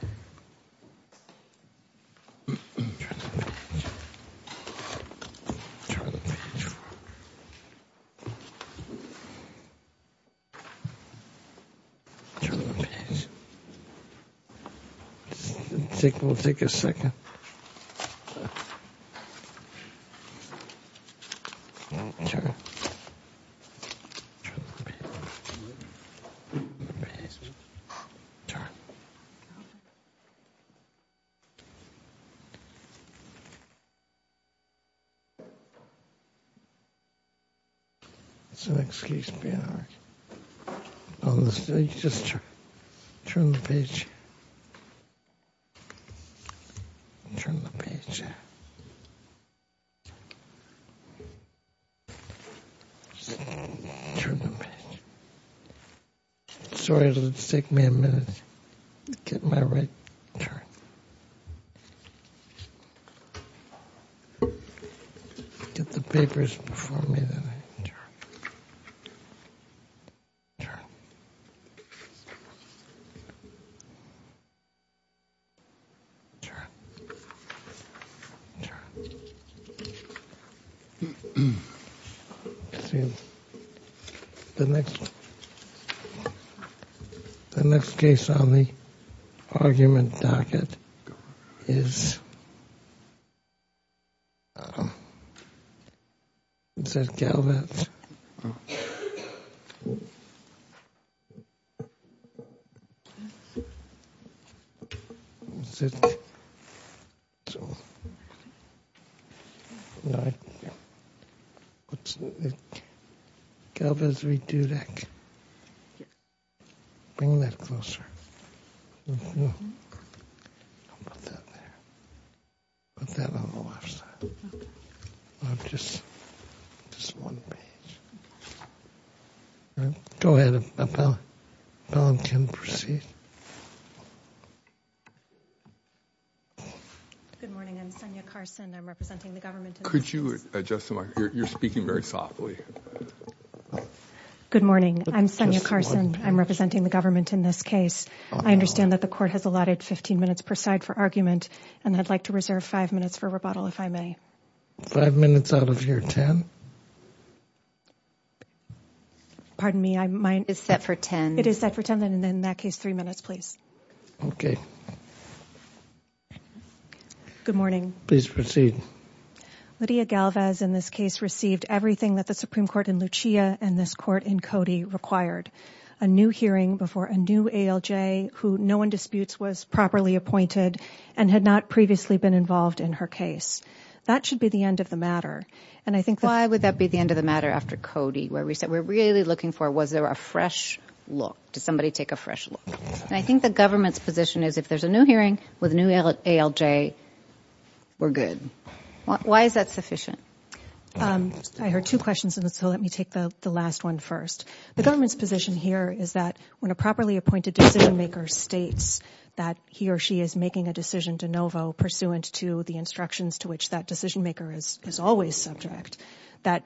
Turn the page. We'll take a second. Turn. Turn the page. Turn the page. It's an excuse to be an arse. On the stage, just turn. Turn the page. Turn the page, yeah. Turn the page. Sorry, it'll take me a minute to get my right. Get the papers before me. Turn. Turn. Turn. The next case on the argument docket is... Is that Galvez? Galvez v. Dudek. Bring that closer. Put that there. Put that on the left side. Just one page. Go ahead. Bob can proceed. Good morning. I'm Sonia Carson. I'm representing the government in this case. Could you adjust the mic? You're speaking very softly. Good morning. I'm Sonia Carson. I'm representing the government in this case. I understand that the court has allotted 15 minutes per side for argument, and I'd like to reserve five minutes for rebuttal, if I may. Five minutes out of your 10? Pardon me. It's set for 10. It is set for 10, and in that case, three minutes, please. Okay. Good morning. Please proceed. Lydia Galvez in this case received everything that the Supreme Court in Lucia and this court in Cody required, a new hearing before a new ALJ who no one disputes was properly appointed and had not previously been involved in her case. That should be the end of the matter. Why would that be the end of the matter after Cody? We're really looking for was there a fresh look? Did somebody take a fresh look? I think the government's position is if there's a new hearing with a new ALJ, we're good. Why is that sufficient? I heard two questions, and so let me take the last one first. The government's position here is that when a properly appointed decision-maker states that he or she is making a decision de novo pursuant to the instructions to which that decision-maker is always subject, that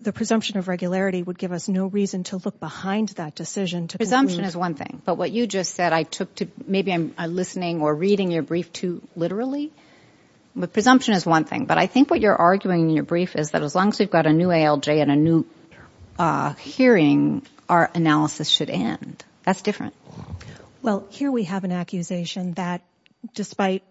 the presumption of regularity would give us no reason to look behind that decision to conclude. Presumption is one thing. But what you just said I took to maybe I'm listening or reading your brief too literally. Presumption is one thing. But I think what you're arguing in your brief is that as long as we've got a new ALJ and a new hearing, our analysis should end. That's different. Well, here we have an accusation that despite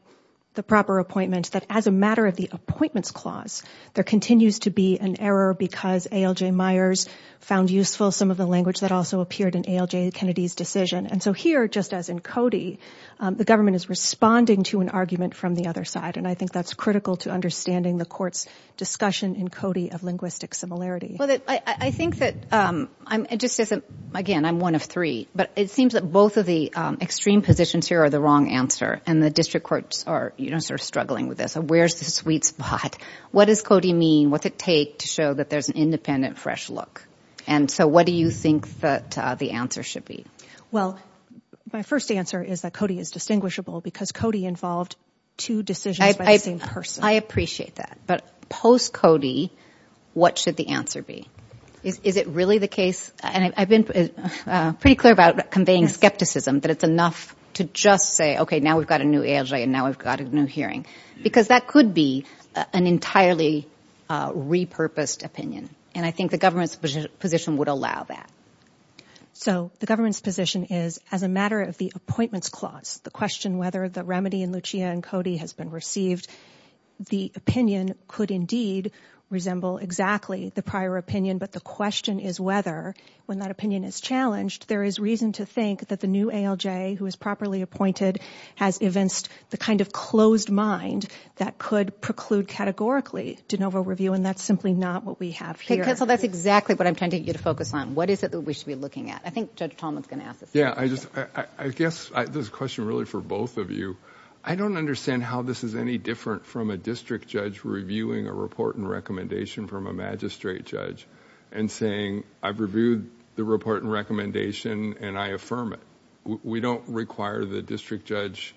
the proper appointment, that as a matter of the appointments clause, there continues to be an error because ALJ Myers found useful some of the language that also appeared in ALJ Kennedy's decision. And so here, just as in Cody, the government is responding to an argument from the other side, and I think that's critical to understanding the court's discussion in Cody of linguistic similarity. Well, I think that it just isn't, again, I'm one of three. But it seems that both of the extreme positions here are the wrong answer, and the district courts are sort of struggling with this. Where's the sweet spot? What does Cody mean? What's it take to show that there's an independent, fresh look? And so what do you think that the answer should be? Well, my first answer is that Cody is distinguishable because Cody involved two decisions by the same person. I appreciate that. But post-Cody, what should the answer be? Is it really the case? And I've been pretty clear about conveying skepticism, that it's enough to just say, okay, now we've got a new ALJ and now we've got a new hearing. Because that could be an entirely repurposed opinion, and I think the government's position would allow that. So the government's position is, as a matter of the appointments clause, the question whether the remedy in Lucia and Cody has been received, the opinion could indeed resemble exactly the prior opinion. But the question is whether, when that opinion is challenged, there is reason to think that the new ALJ, who is properly appointed, has evinced the kind of closed mind that could preclude categorically de novo review, and that's simply not what we have here. Okay, counsel, that's exactly what I'm tending you to focus on. What is it that we should be looking at? I think Judge Tolman is going to ask this. Yeah, I guess this is a question really for both of you. I don't understand how this is any different from a district judge reviewing a report and recommendation from a magistrate judge and saying, I've reviewed the report and recommendation and I affirm it. We don't require the district judge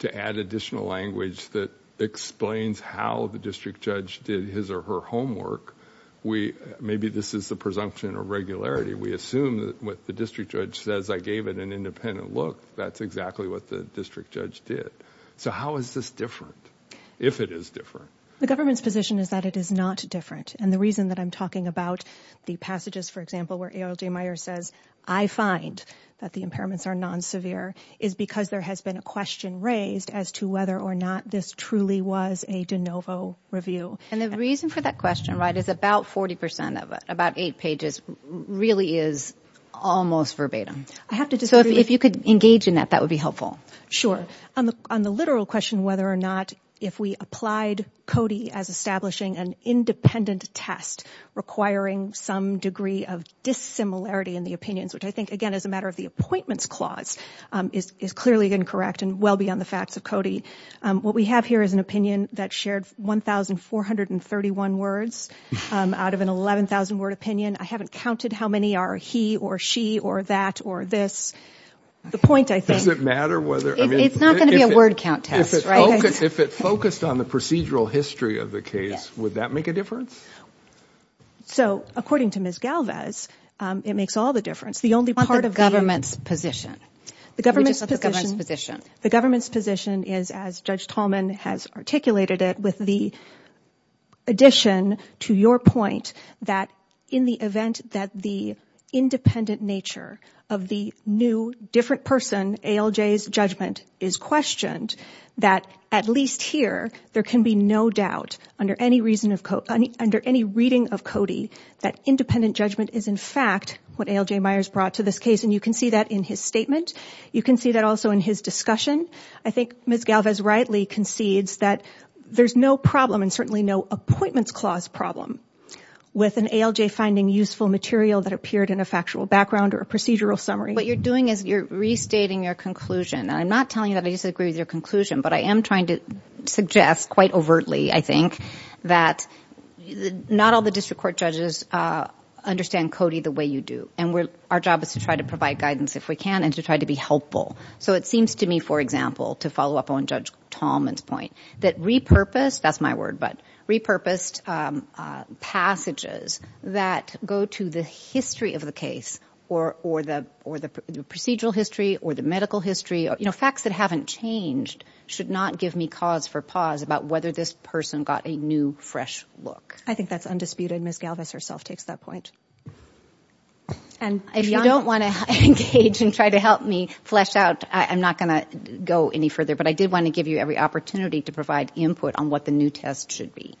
to add additional language that explains how the district judge did his or her homework. Maybe this is the presumption of regularity. We assume that what the district judge says, I gave it an independent look. That's exactly what the district judge did. So how is this different, if it is different? The government's position is that it is not different, and the reason that I'm talking about the passages, for example, where ALJ Meyer says, I find that the impairments are non-severe, is because there has been a question raised as to whether or not this truly was a de novo review. And the reason for that question, right, is about 40% of it, about eight pages, really is almost verbatim. So if you could engage in that, that would be helpful. Sure. On the literal question whether or not if we applied CODI as establishing an independent test requiring some degree of dissimilarity in the opinions, which I think, again, is a matter of the appointments clause, is clearly incorrect and well beyond the facts of CODI. What we have here is an opinion that shared 1,431 words. Out of an 11,000-word opinion, I haven't counted how many are he or she or that or this. The point, I think – Does it matter whether – It's not going to be a word count test, right? If it focused on the procedural history of the case, would that make a difference? So according to Ms. Galvez, it makes all the difference. The only part of the – On the government's position. The government's position is, as Judge Tallman has articulated it, with the addition to your point that in the event that the independent nature of the new, different person, ALJ's judgment, is questioned, that at least here there can be no doubt under any reading of CODI that independent judgment is, in fact, what ALJ Myers brought to this case. And you can see that in his statement. You can see that also in his discussion. I think Ms. Galvez rightly concedes that there's no problem and certainly no appointments clause problem with an ALJ finding useful material that appeared in a factual background or a procedural summary. What you're doing is you're restating your conclusion. And I'm not telling you that I disagree with your conclusion, but I am trying to suggest quite overtly, I think, that not all the district court judges understand CODI the way you do. And our job is to try to provide guidance if we can and to try to be helpful. So it seems to me, for example, to follow up on Judge Tallman's point, that repurposed passages that go to the history of the case or the procedural history or the medical history, facts that haven't changed should not give me cause for pause about whether this person got a new, fresh look. I think that's undisputed. Ms. Galvez herself takes that point. If you don't want to engage and try to help me flesh out, I'm not going to go any further, but I did want to give you every opportunity to provide input on what the new test should be.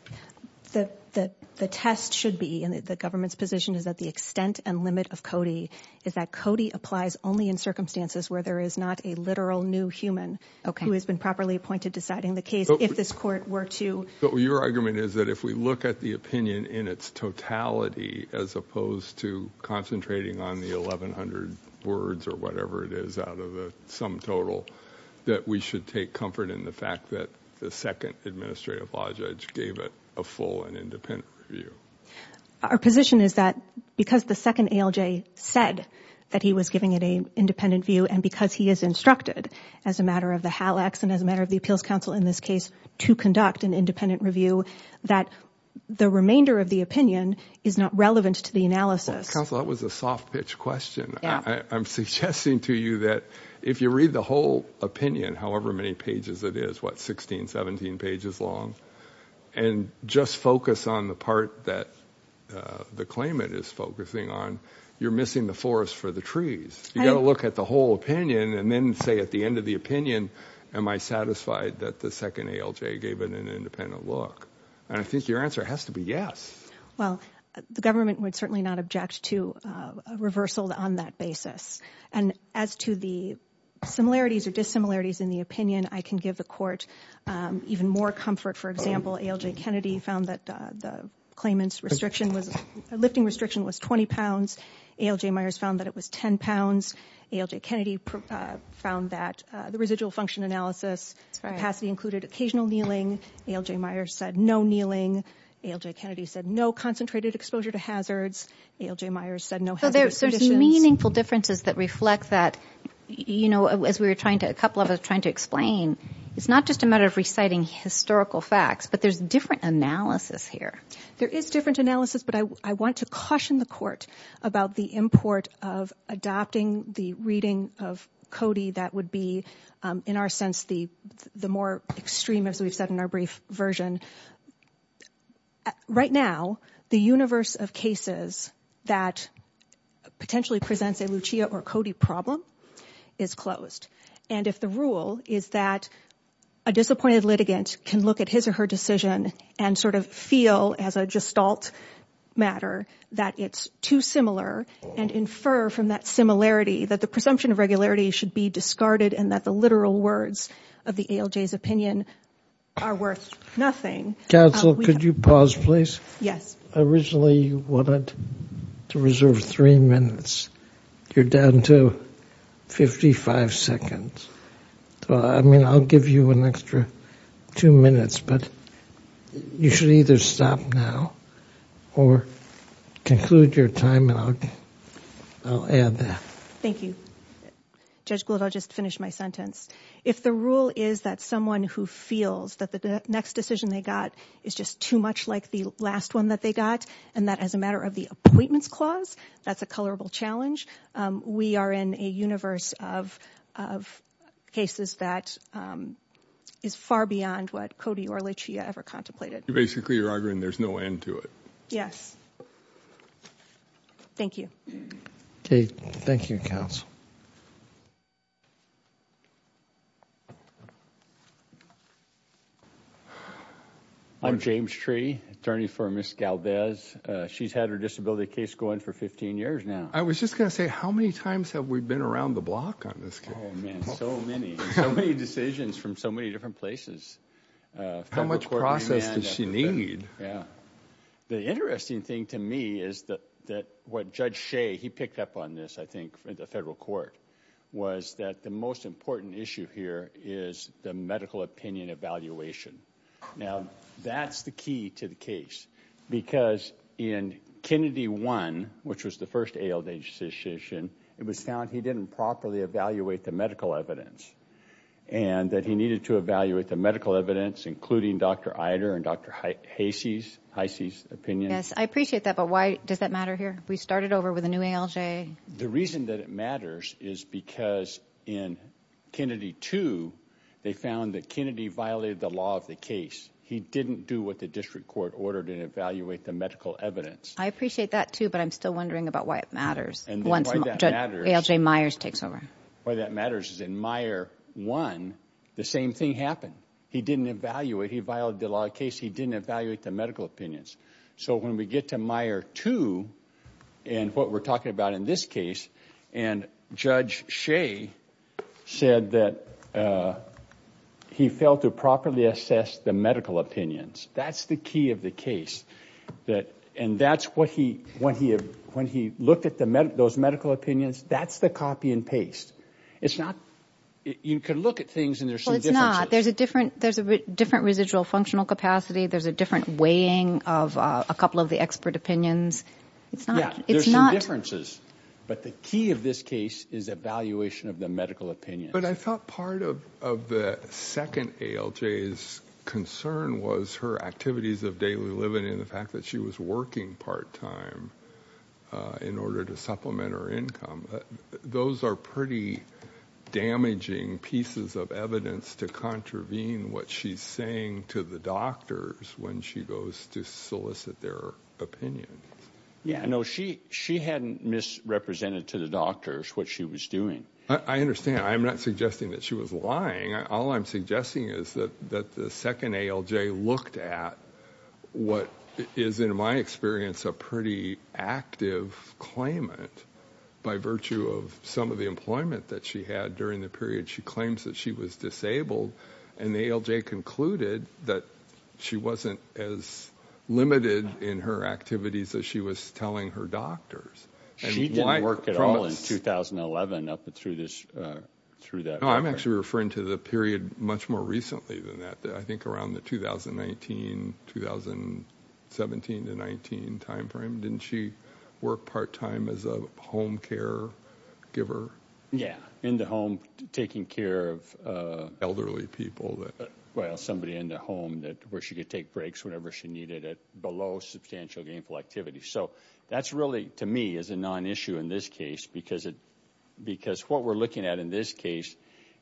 The test should be, and the government's position is that the extent and limit of CODI is that CODI applies only in circumstances where there is not a literal new human who has been properly appointed deciding the case if this court were to. Your argument is that if we look at the opinion in its totality as opposed to concentrating on the 1,100 words or whatever it is out of the sum total, that we should take comfort in the fact that the second administrative law judge gave it a full and independent review. Our position is that because the second ALJ said that he was giving it an independent view and because he is instructed, as a matter of the HALACs and as a matter of the Appeals Council in this case, to conduct an independent review, that the remainder of the opinion is not relevant to the analysis. Counsel, that was a soft pitch question. I'm suggesting to you that if you read the whole opinion, however many pages it is, what, 16, 17 pages long, and just focus on the part that the claimant is focusing on, you're missing the forest for the trees. You've got to look at the whole opinion and then say at the end of the opinion, am I satisfied that the second ALJ gave it an independent look? And I think your answer has to be yes. Well, the government would certainly not object to a reversal on that basis. And as to the similarities or dissimilarities in the opinion, I can give the Court even more comfort. For example, ALJ Kennedy found that the claimant's restriction was, lifting restriction was 20 pounds. ALJ Myers found that it was 10 pounds. ALJ Kennedy found that the residual function analysis capacity included occasional kneeling. ALJ Myers said no kneeling. ALJ Kennedy said no concentrated exposure to hazards. ALJ Myers said no hazardous conditions. So there's meaningful differences that reflect that, you know, as a couple of us were trying to explain, it's not just a matter of reciting historical facts, but there's different analysis here. There is different analysis, but I want to caution the Court about the import of adopting the reading of Cody that would be, in our sense, the more extreme, as we've said in our brief version. Right now, the universe of cases that potentially presents a Lucia or Cody problem is closed. And if the rule is that a disappointed litigant can look at his or her decision and sort of feel as a gestalt matter that it's too similar and infer from that similarity that the presumption of regularity should be discarded and that the literal words of the ALJ's opinion are worth nothing. Counsel, could you pause, please? Yes. Originally you wanted to reserve three minutes. You're down to 55 seconds. I mean, I'll give you an extra two minutes, but you should either stop now or conclude your time, and I'll add that. Thank you. Judge Gould, I'll just finish my sentence. If the rule is that someone who feels that the next decision they got is just too much like the last one that they got and that as a matter of the appointments clause, that's a colorable challenge, we are in a universe of cases that is far beyond what Cody or Lucia ever contemplated. You're basically arguing there's no end to it. Yes. Thank you. Okay. Thank you, counsel. I'm James Tree, attorney for Ms. Galvez. She's had her disability case going for 15 years now. I was just going to say, how many times have we been around the block on this case? Oh, man, so many. So many decisions from so many different places. How much process does she need? The interesting thing to me is that what Judge Shea, he picked up on this, I think, at the federal court, was that the most important issue here is the medical opinion evaluation. Now, that's the key to the case because in Kennedy 1, which was the first ALJ decision, it was found he didn't properly evaluate the medical evidence and that he needed to evaluate the medical evidence, including Dr. Ider and Dr. Heise's opinion. Yes, I appreciate that, but why does that matter here? We started over with a new ALJ. The reason that it matters is because in Kennedy 2, they found that Kennedy violated the law of the case. He didn't do what the district court ordered and evaluate the medical evidence. I appreciate that, too, but I'm still wondering about why it matters once ALJ Myers takes over. Why that matters is in Meyer 1, the same thing happened. He didn't evaluate. He violated the law of the case. He didn't evaluate the medical opinions. So when we get to Meyer 2 and what we're talking about in this case, and Judge Shea said that he failed to properly assess the medical opinions. That's the key of the case. And that's what he, when he looked at those medical opinions, that's the copy and paste. It's not, you can look at things and there's some differences. There's a different residual functional capacity. There's a different weighing of a couple of the expert opinions. It's not. Yeah, there's some differences, but the key of this case is evaluation of the medical opinion. But I thought part of the second ALJ's concern was her activities of daily living in the fact that she was working part time in order to supplement her income. Those are pretty damaging pieces of evidence to contravene what she's saying to the doctors when she goes to solicit their opinion. Yeah, no, she hadn't misrepresented to the doctors what she was doing. I understand. I'm not suggesting that she was lying. All I'm suggesting is that the second ALJ looked at what is, in my experience, a pretty active claimant by virtue of some of the employment that she had during the period she claims that she was disabled. And the ALJ concluded that she wasn't as limited in her activities as she was telling her doctors. She didn't work at all in 2011 up through this, through that. I'm actually referring to the period much more recently than that. I think around the 2019, 2017 to 19 timeframe, didn't she work part time as a home care giver? Yeah, in the home taking care of elderly people. Well, somebody in the home that where she could take breaks whenever she needed it below substantial gainful activity. So that's really, to me, is a non-issue in this case because what we're looking at in this case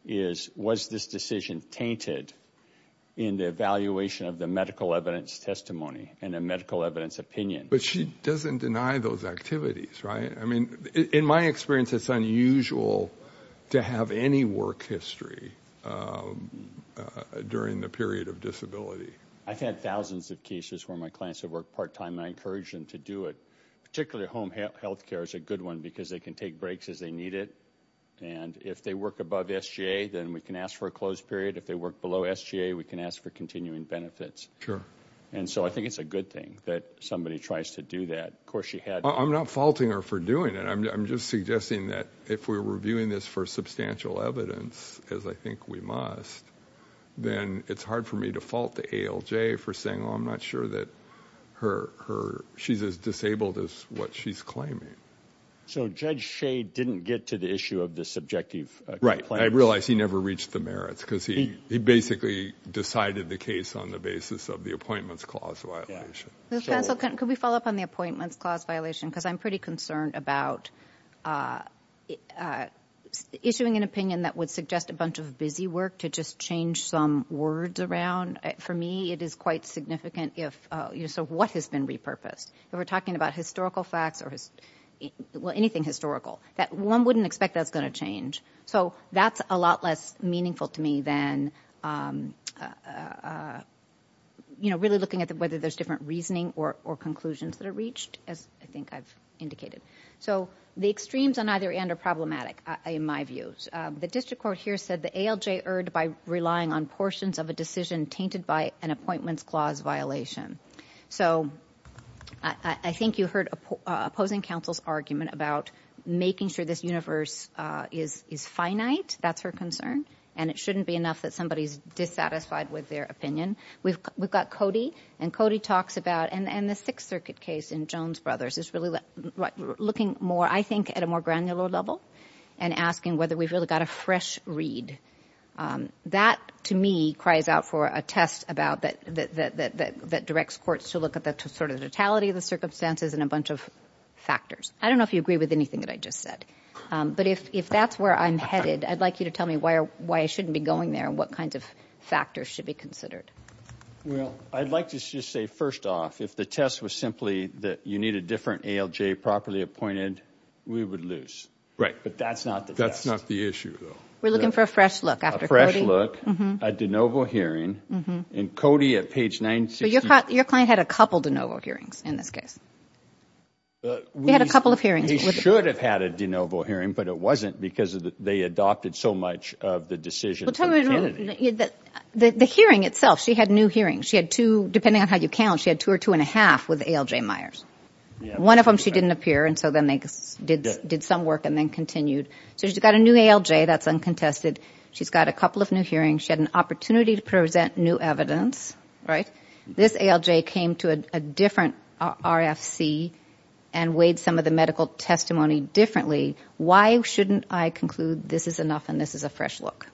is, was this decision tainted in the evaluation of the medical evidence testimony and the medical evidence opinion? But she doesn't deny those activities, right? I mean, in my experience, it's unusual to have any work history during the period of disability. I've had thousands of cases where my clients have worked part time. I encourage them to do it, particularly home health care is a good one because they can take breaks as they need it. And if they work above SGA, then we can ask for a closed period. If they work below SGA, we can ask for continuing benefits. Sure. And so I think it's a good thing that somebody tries to do that. Of course, she had. I'm not faulting her for doing it. I'm just suggesting that if we're reviewing this for substantial evidence, as I think we must, then it's hard for me to fault the ALJ for saying, oh, I'm not sure that she's as disabled as what she's claiming. So Judge Shea didn't get to the issue of the subjective complaint? Right. I realize he never reached the merits because he basically decided the case on the basis of the appointments clause violation. Could we follow up on the appointments clause violation? Because I'm pretty concerned about issuing an opinion that would suggest a bunch of busy work to just change some words around. For me, it is quite significant. So what has been repurposed? If we're talking about historical facts or anything historical, one wouldn't expect that's going to change. So that's a lot less meaningful to me than really looking at whether there's different reasoning or conclusions that are reached, as I think I've indicated. So the extremes on either end are problematic, in my view. The district court here said the ALJ erred by relying on portions of a decision tainted by an appointments clause violation. So I think you heard opposing counsel's argument about making sure this universe is finite. That's her concern. And it shouldn't be enough that somebody's dissatisfied with their opinion. We've got Cody, and Cody talks about, and the Sixth Circuit case in Jones Brothers is really looking more, I think, at a more granular level and asking whether we've really got a fresh read. That, to me, cries out for a test that directs courts to look at the sort of totality of the circumstances and a bunch of factors. I don't know if you agree with anything that I just said. But if that's where I'm headed, I'd like you to tell me why I shouldn't be going there and what kinds of factors should be considered. Well, I'd like to just say, first off, if the test was simply that you need a different ALJ properly appointed, we would lose. Right. But that's not the test. That's not the issue, though. We're looking for a fresh look after Cody. A de novo hearing. And Cody at page 968. But your client had a couple de novo hearings in this case. He had a couple of hearings. He should have had a de novo hearing, but it wasn't because they adopted so much of the decision from Kennedy. The hearing itself, she had new hearings. She had two, depending on how you count, she had two or two and a half with ALJ Myers. One of them she didn't appear, and so then they did some work and then continued. So she's got a new ALJ that's uncontested. She's got a couple of new hearings. She had an opportunity to present new evidence. Right. This ALJ came to a different RFC and weighed some of the medical testimony differently. Why shouldn't I conclude this is enough and this is a fresh look?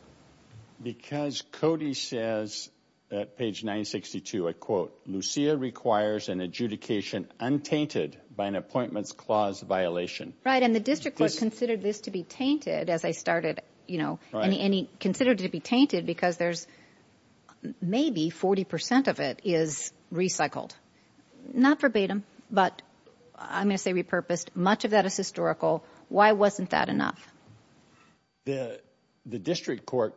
Because Cody says at page 962, I quote, Lucia requires an adjudication untainted by an appointments clause violation. Right, and the district court considered this to be tainted as I started, you know, and he considered it to be tainted because there's maybe 40 percent of it is recycled. Not verbatim, but I'm going to say repurposed. Much of that is historical. Why wasn't that enough? The district court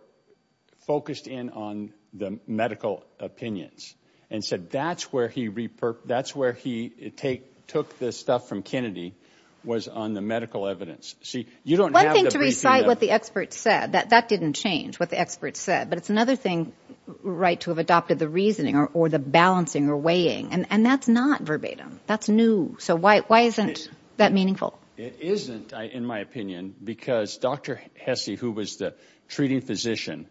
focused in on the medical opinions and said that's where he took this stuff from Kennedy was on the medical evidence. One thing to recite what the experts said, that didn't change what the experts said, but it's another thing, right, to have adopted the reasoning or the balancing or weighing, and that's not verbatim. That's new. So why isn't that meaningful? It isn't, in my opinion, because Dr. Hesse, who was the treating physician,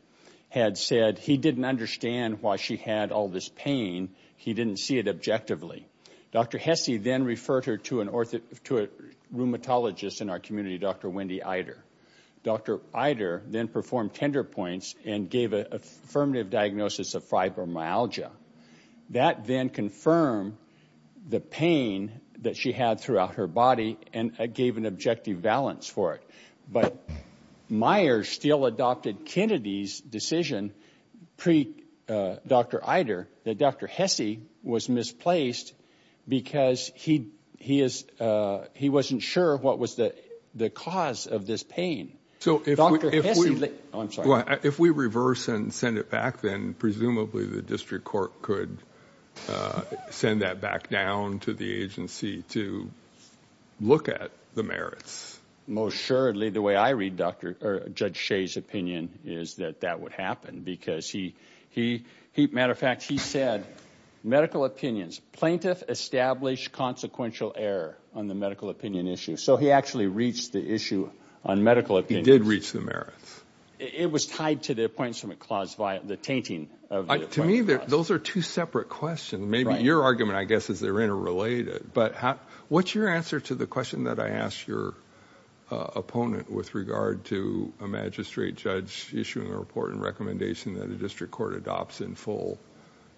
had said he didn't understand why she had all this pain. He didn't see it objectively. Dr. Hesse then referred her to a rheumatologist in our community, Dr. Wendy Eider. Dr. Eider then performed tender points and gave an affirmative diagnosis of fibromyalgia. That then confirmed the pain that she had throughout her body and gave an objective balance for it. But Meyers still adopted Kennedy's decision pre-Dr. Eider that Dr. Hesse was misplaced because he wasn't sure what was the cause of this pain. Dr. Hesse – oh, I'm sorry. If we reverse and send it back, then presumably the district court could send that back down to the agency to look at the merits. Most surely the way I read Judge Shea's opinion is that that would happen because, matter of fact, he said medical opinions, plaintiff established consequential error on the medical opinion issue. So he actually reached the issue on medical opinions. He did reach the merits. It was tied to the Appointment Clause via the tainting of the Appointment Clause. To me, those are two separate questions. Maybe your argument, I guess, is they're interrelated. But what's your answer to the question that I asked your opponent with regard to a magistrate judge issuing a report and recommendation that a district court adopts in full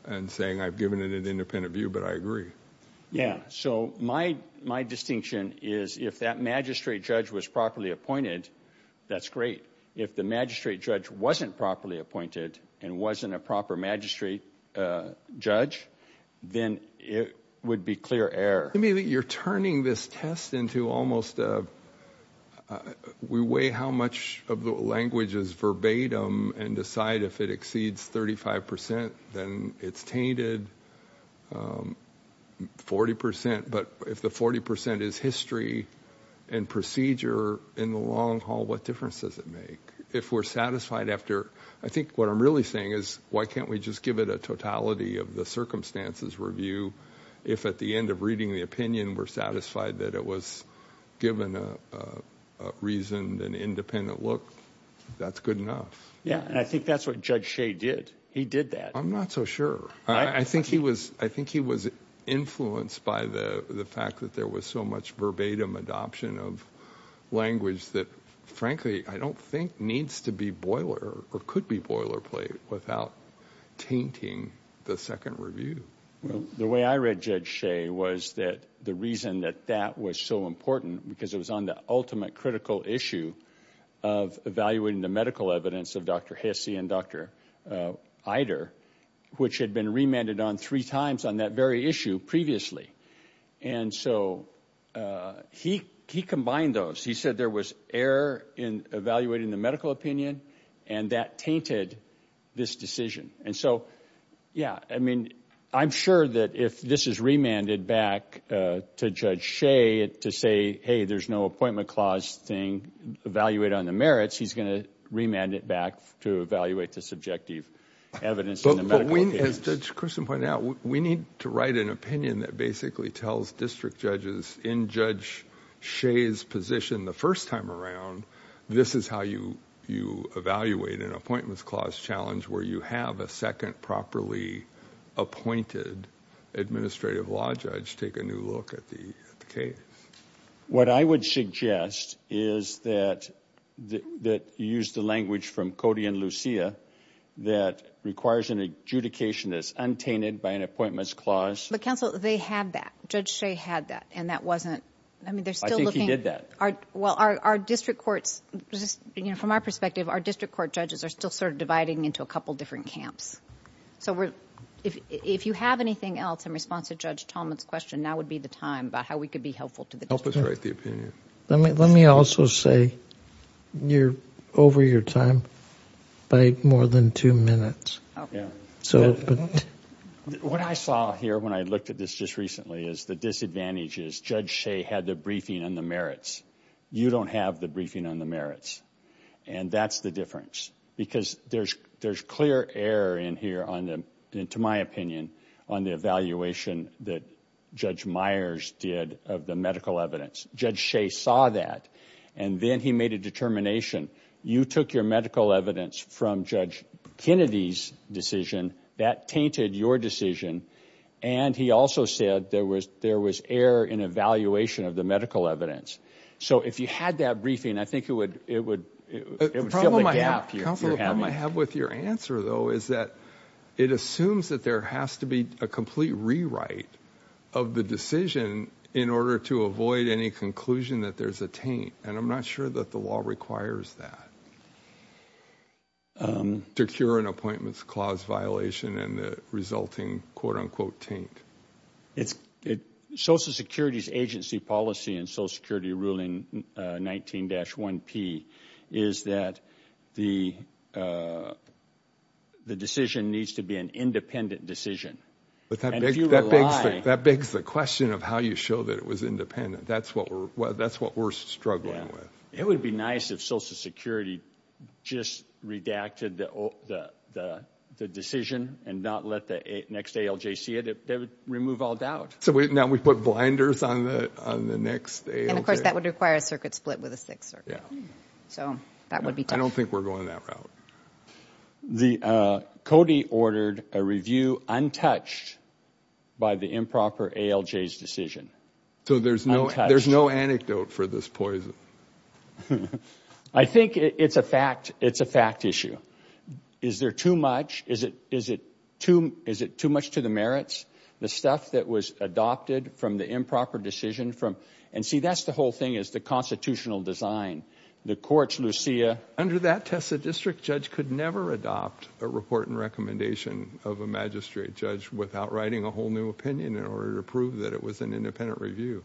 and saying I've given it an independent view but I agree? Yeah, so my distinction is if that magistrate judge was properly appointed, that's great. If the magistrate judge wasn't properly appointed and wasn't a proper magistrate judge, then it would be clear error. You're turning this test into almost a we weigh how much of the language is verbatim and decide if it exceeds 35 percent, then it's tainted, 40 percent. But if the 40 percent is history and procedure in the long haul, what difference does it make? If we're satisfied after, I think what I'm really saying is why can't we just give it a totality of the circumstances review? If at the end of reading the opinion we're satisfied that it was given a reasoned and independent look, that's good enough. Yeah, and I think that's what Judge Shea did. He did that. I'm not so sure. I think he was influenced by the fact that there was so much verbatim adoption of language that frankly I don't think needs to be boiler or could be boilerplate without tainting the second review. The way I read Judge Shea was that the reason that that was so important because it was on the ultimate critical issue of evaluating the medical evidence of Dr. Hesse and Dr. Eider, which had been remanded on three times on that very issue previously. And so he combined those. He said there was error in evaluating the medical opinion, and that tainted this decision. And so, yeah, I mean, I'm sure that if this is remanded back to Judge Shea to say, hey, there's no appointment clause thing, evaluate on the merits, he's going to remand it back to evaluate the subjective evidence in the medical opinion. As Judge Christen pointed out, we need to write an opinion that basically tells district judges in Judge Shea's position the first time around, this is how you evaluate an appointment clause challenge where you have a second properly appointed administrative law judge take a new look at the case. What I would suggest is that you use the language from Cody and Lucia that requires an adjudication that's untainted by an appointments clause. But, counsel, they had that. Judge Shea had that, and that wasn't, I mean, they're still looking. I think he did that. Well, our district courts, from our perspective, our district court judges are still sort of dividing into a couple different camps. So if you have anything else in response to Judge Talmadge's question, that would be the time about how we could be helpful to the district. Help us write the opinion. Let me also say, you're over your time by more than two minutes. Okay. What I saw here when I looked at this just recently is the disadvantages. Judge Shea had the briefing on the merits. You don't have the briefing on the merits. And that's the difference because there's clear error in here, to my opinion, on the evaluation that Judge Myers did of the medical evidence. Judge Shea saw that, and then he made a determination. You took your medical evidence from Judge Kennedy's decision. That tainted your decision. And he also said there was error in evaluation of the medical evidence. So if you had that briefing, I think it would fill the gap you're having. The problem I have with your answer, though, is that it assumes that there has to be a complete rewrite of the decision in order to avoid any conclusion that there's a taint. And I'm not sure that the law requires that to cure an appointments clause violation and the resulting quote-unquote taint. Social Security's agency policy in Social Security ruling 19-1P is that the decision needs to be an independent decision. That begs the question of how you show that it was independent. That's what we're struggling with. It would be nice if Social Security just redacted the decision and not let the next ALJ see it. That would remove all doubt. So now we put blinders on the next ALJ? And, of course, that would require a circuit split with a sixth circuit. So that would be tough. I don't think we're going that route. Cody ordered a review untouched by the improper ALJ's decision. So there's no anecdote for this poison? I think it's a fact issue. Is there too much? Is it too much to the merits? The stuff that was adopted from the improper decision? And, see, that's the whole thing is the constitutional design. The courts, Lucia. Under that test, a district judge could never adopt a report and recommendation of a magistrate judge without writing a whole new opinion in order to prove that it was an independent review.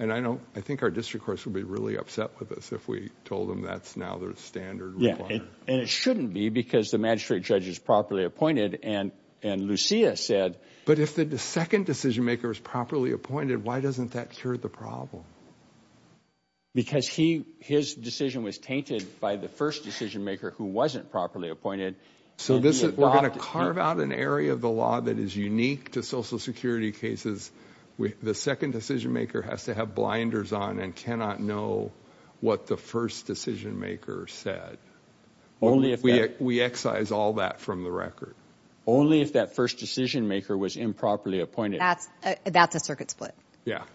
And I think our district courts would be really upset with us if we told them that's now their standard. And it shouldn't be because the magistrate judge is properly appointed. And Lucia said. But if the second decision-maker is properly appointed, why doesn't that cure the problem? Because his decision was tainted by the first decision-maker who wasn't properly appointed. So we're going to carve out an area of the law that is unique to Social Security cases. The second decision-maker has to have blinders on and cannot know what the first decision-maker said. We excise all that from the record. Only if that first decision-maker was improperly appointed. That's a circuit split.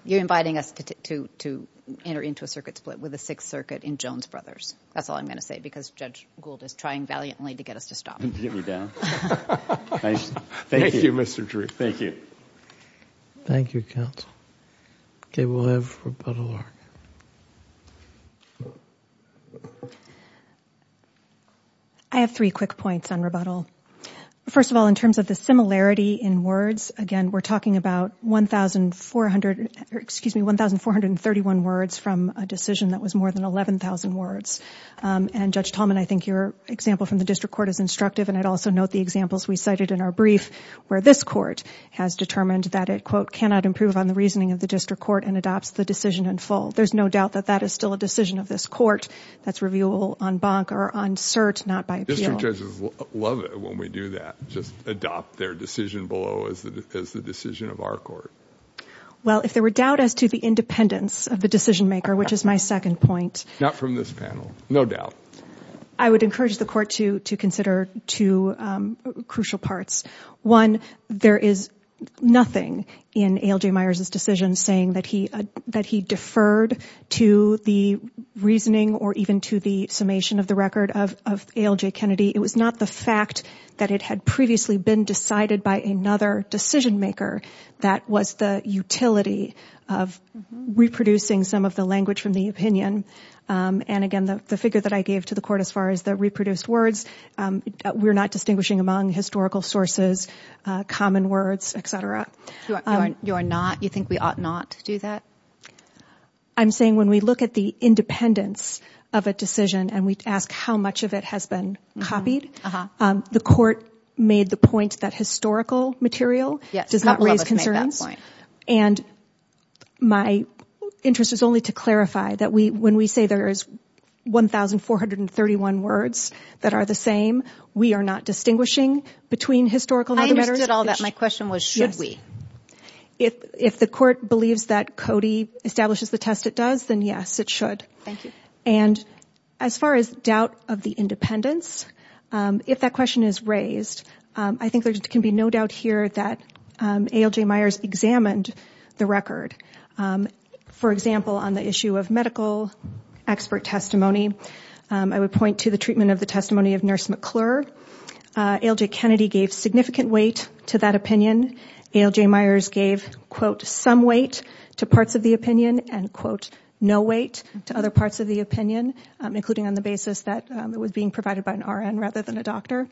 You're inviting us to enter into a circuit split with a Sixth Circuit in Jones Brothers. That's all I'm going to say because Judge Gould is trying valiantly to get us to stop. Did you get me down? Thank you, Mr. Drew. Thank you. Thank you, counsel. Okay, we'll have rebuttal. I have three quick points on rebuttal. First of all, in terms of the similarity in words, again, we're talking about 1,431 words from a decision that was more than 11,000 words. And Judge Tallman, I think your example from the district court is instructive, and I'd also note the examples we cited in our brief where this court has determined that it, quote, cannot improve on the reasoning of the district court and adopts the decision in full. There's no doubt that that is still a decision of this court that's reviewable on bonk or on cert, not by appeal. District judges love it when we do that, just adopt their decision below as the decision of our court. Well, if there were doubt as to the independence of the decision-maker, which is my second point. Not from this panel, no doubt. I would encourage the court to consider two crucial parts. One, there is nothing in A.L.J. Myers' decision saying that he deferred to the reasoning or even to the summation of the record of A.L.J. Kennedy. It was not the fact that it had previously been decided by another decision-maker that was the utility of reproducing some of the language from the opinion. And again, the figure that I gave to the court as far as the reproduced words, we're not distinguishing among historical sources, common words, et cetera. You think we ought not do that? I'm saying when we look at the independence of a decision and we ask how much of it has been copied, the court made the point that historical material does not raise concerns. And my interest is only to clarify that when we say there is 1,431 words that are the same, we are not distinguishing between historical and other letters? I understood all that. My question was should we? If the court believes that Cody establishes the test it does, then yes, it should. Thank you. And as far as doubt of the independence, if that question is raised, I think there can be no doubt here that A.L.J. Myers examined the record. For example, on the issue of medical expert testimony, I would point to the treatment of the testimony of Nurse McClure. A.L.J. Kennedy gave significant weight to that opinion. A.L.J. Myers gave, quote, some weight to parts of the opinion and, quote, no weight to other parts of the opinion, including on the basis that it was being provided by an R.N. rather than a doctor.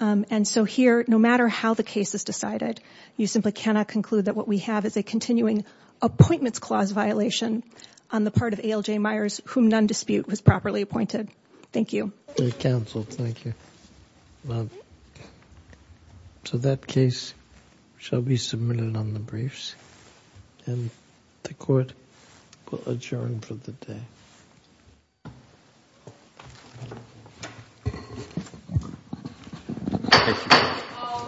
And so here, no matter how the case is decided, you simply cannot conclude that what we have is a continuing appointments clause violation on the part of A.L.J. Myers, whom none dispute was properly appointed. Thank you. Counsel, thank you. So that case shall be submitted on the briefs, and the court will adjourn for the day. All rise.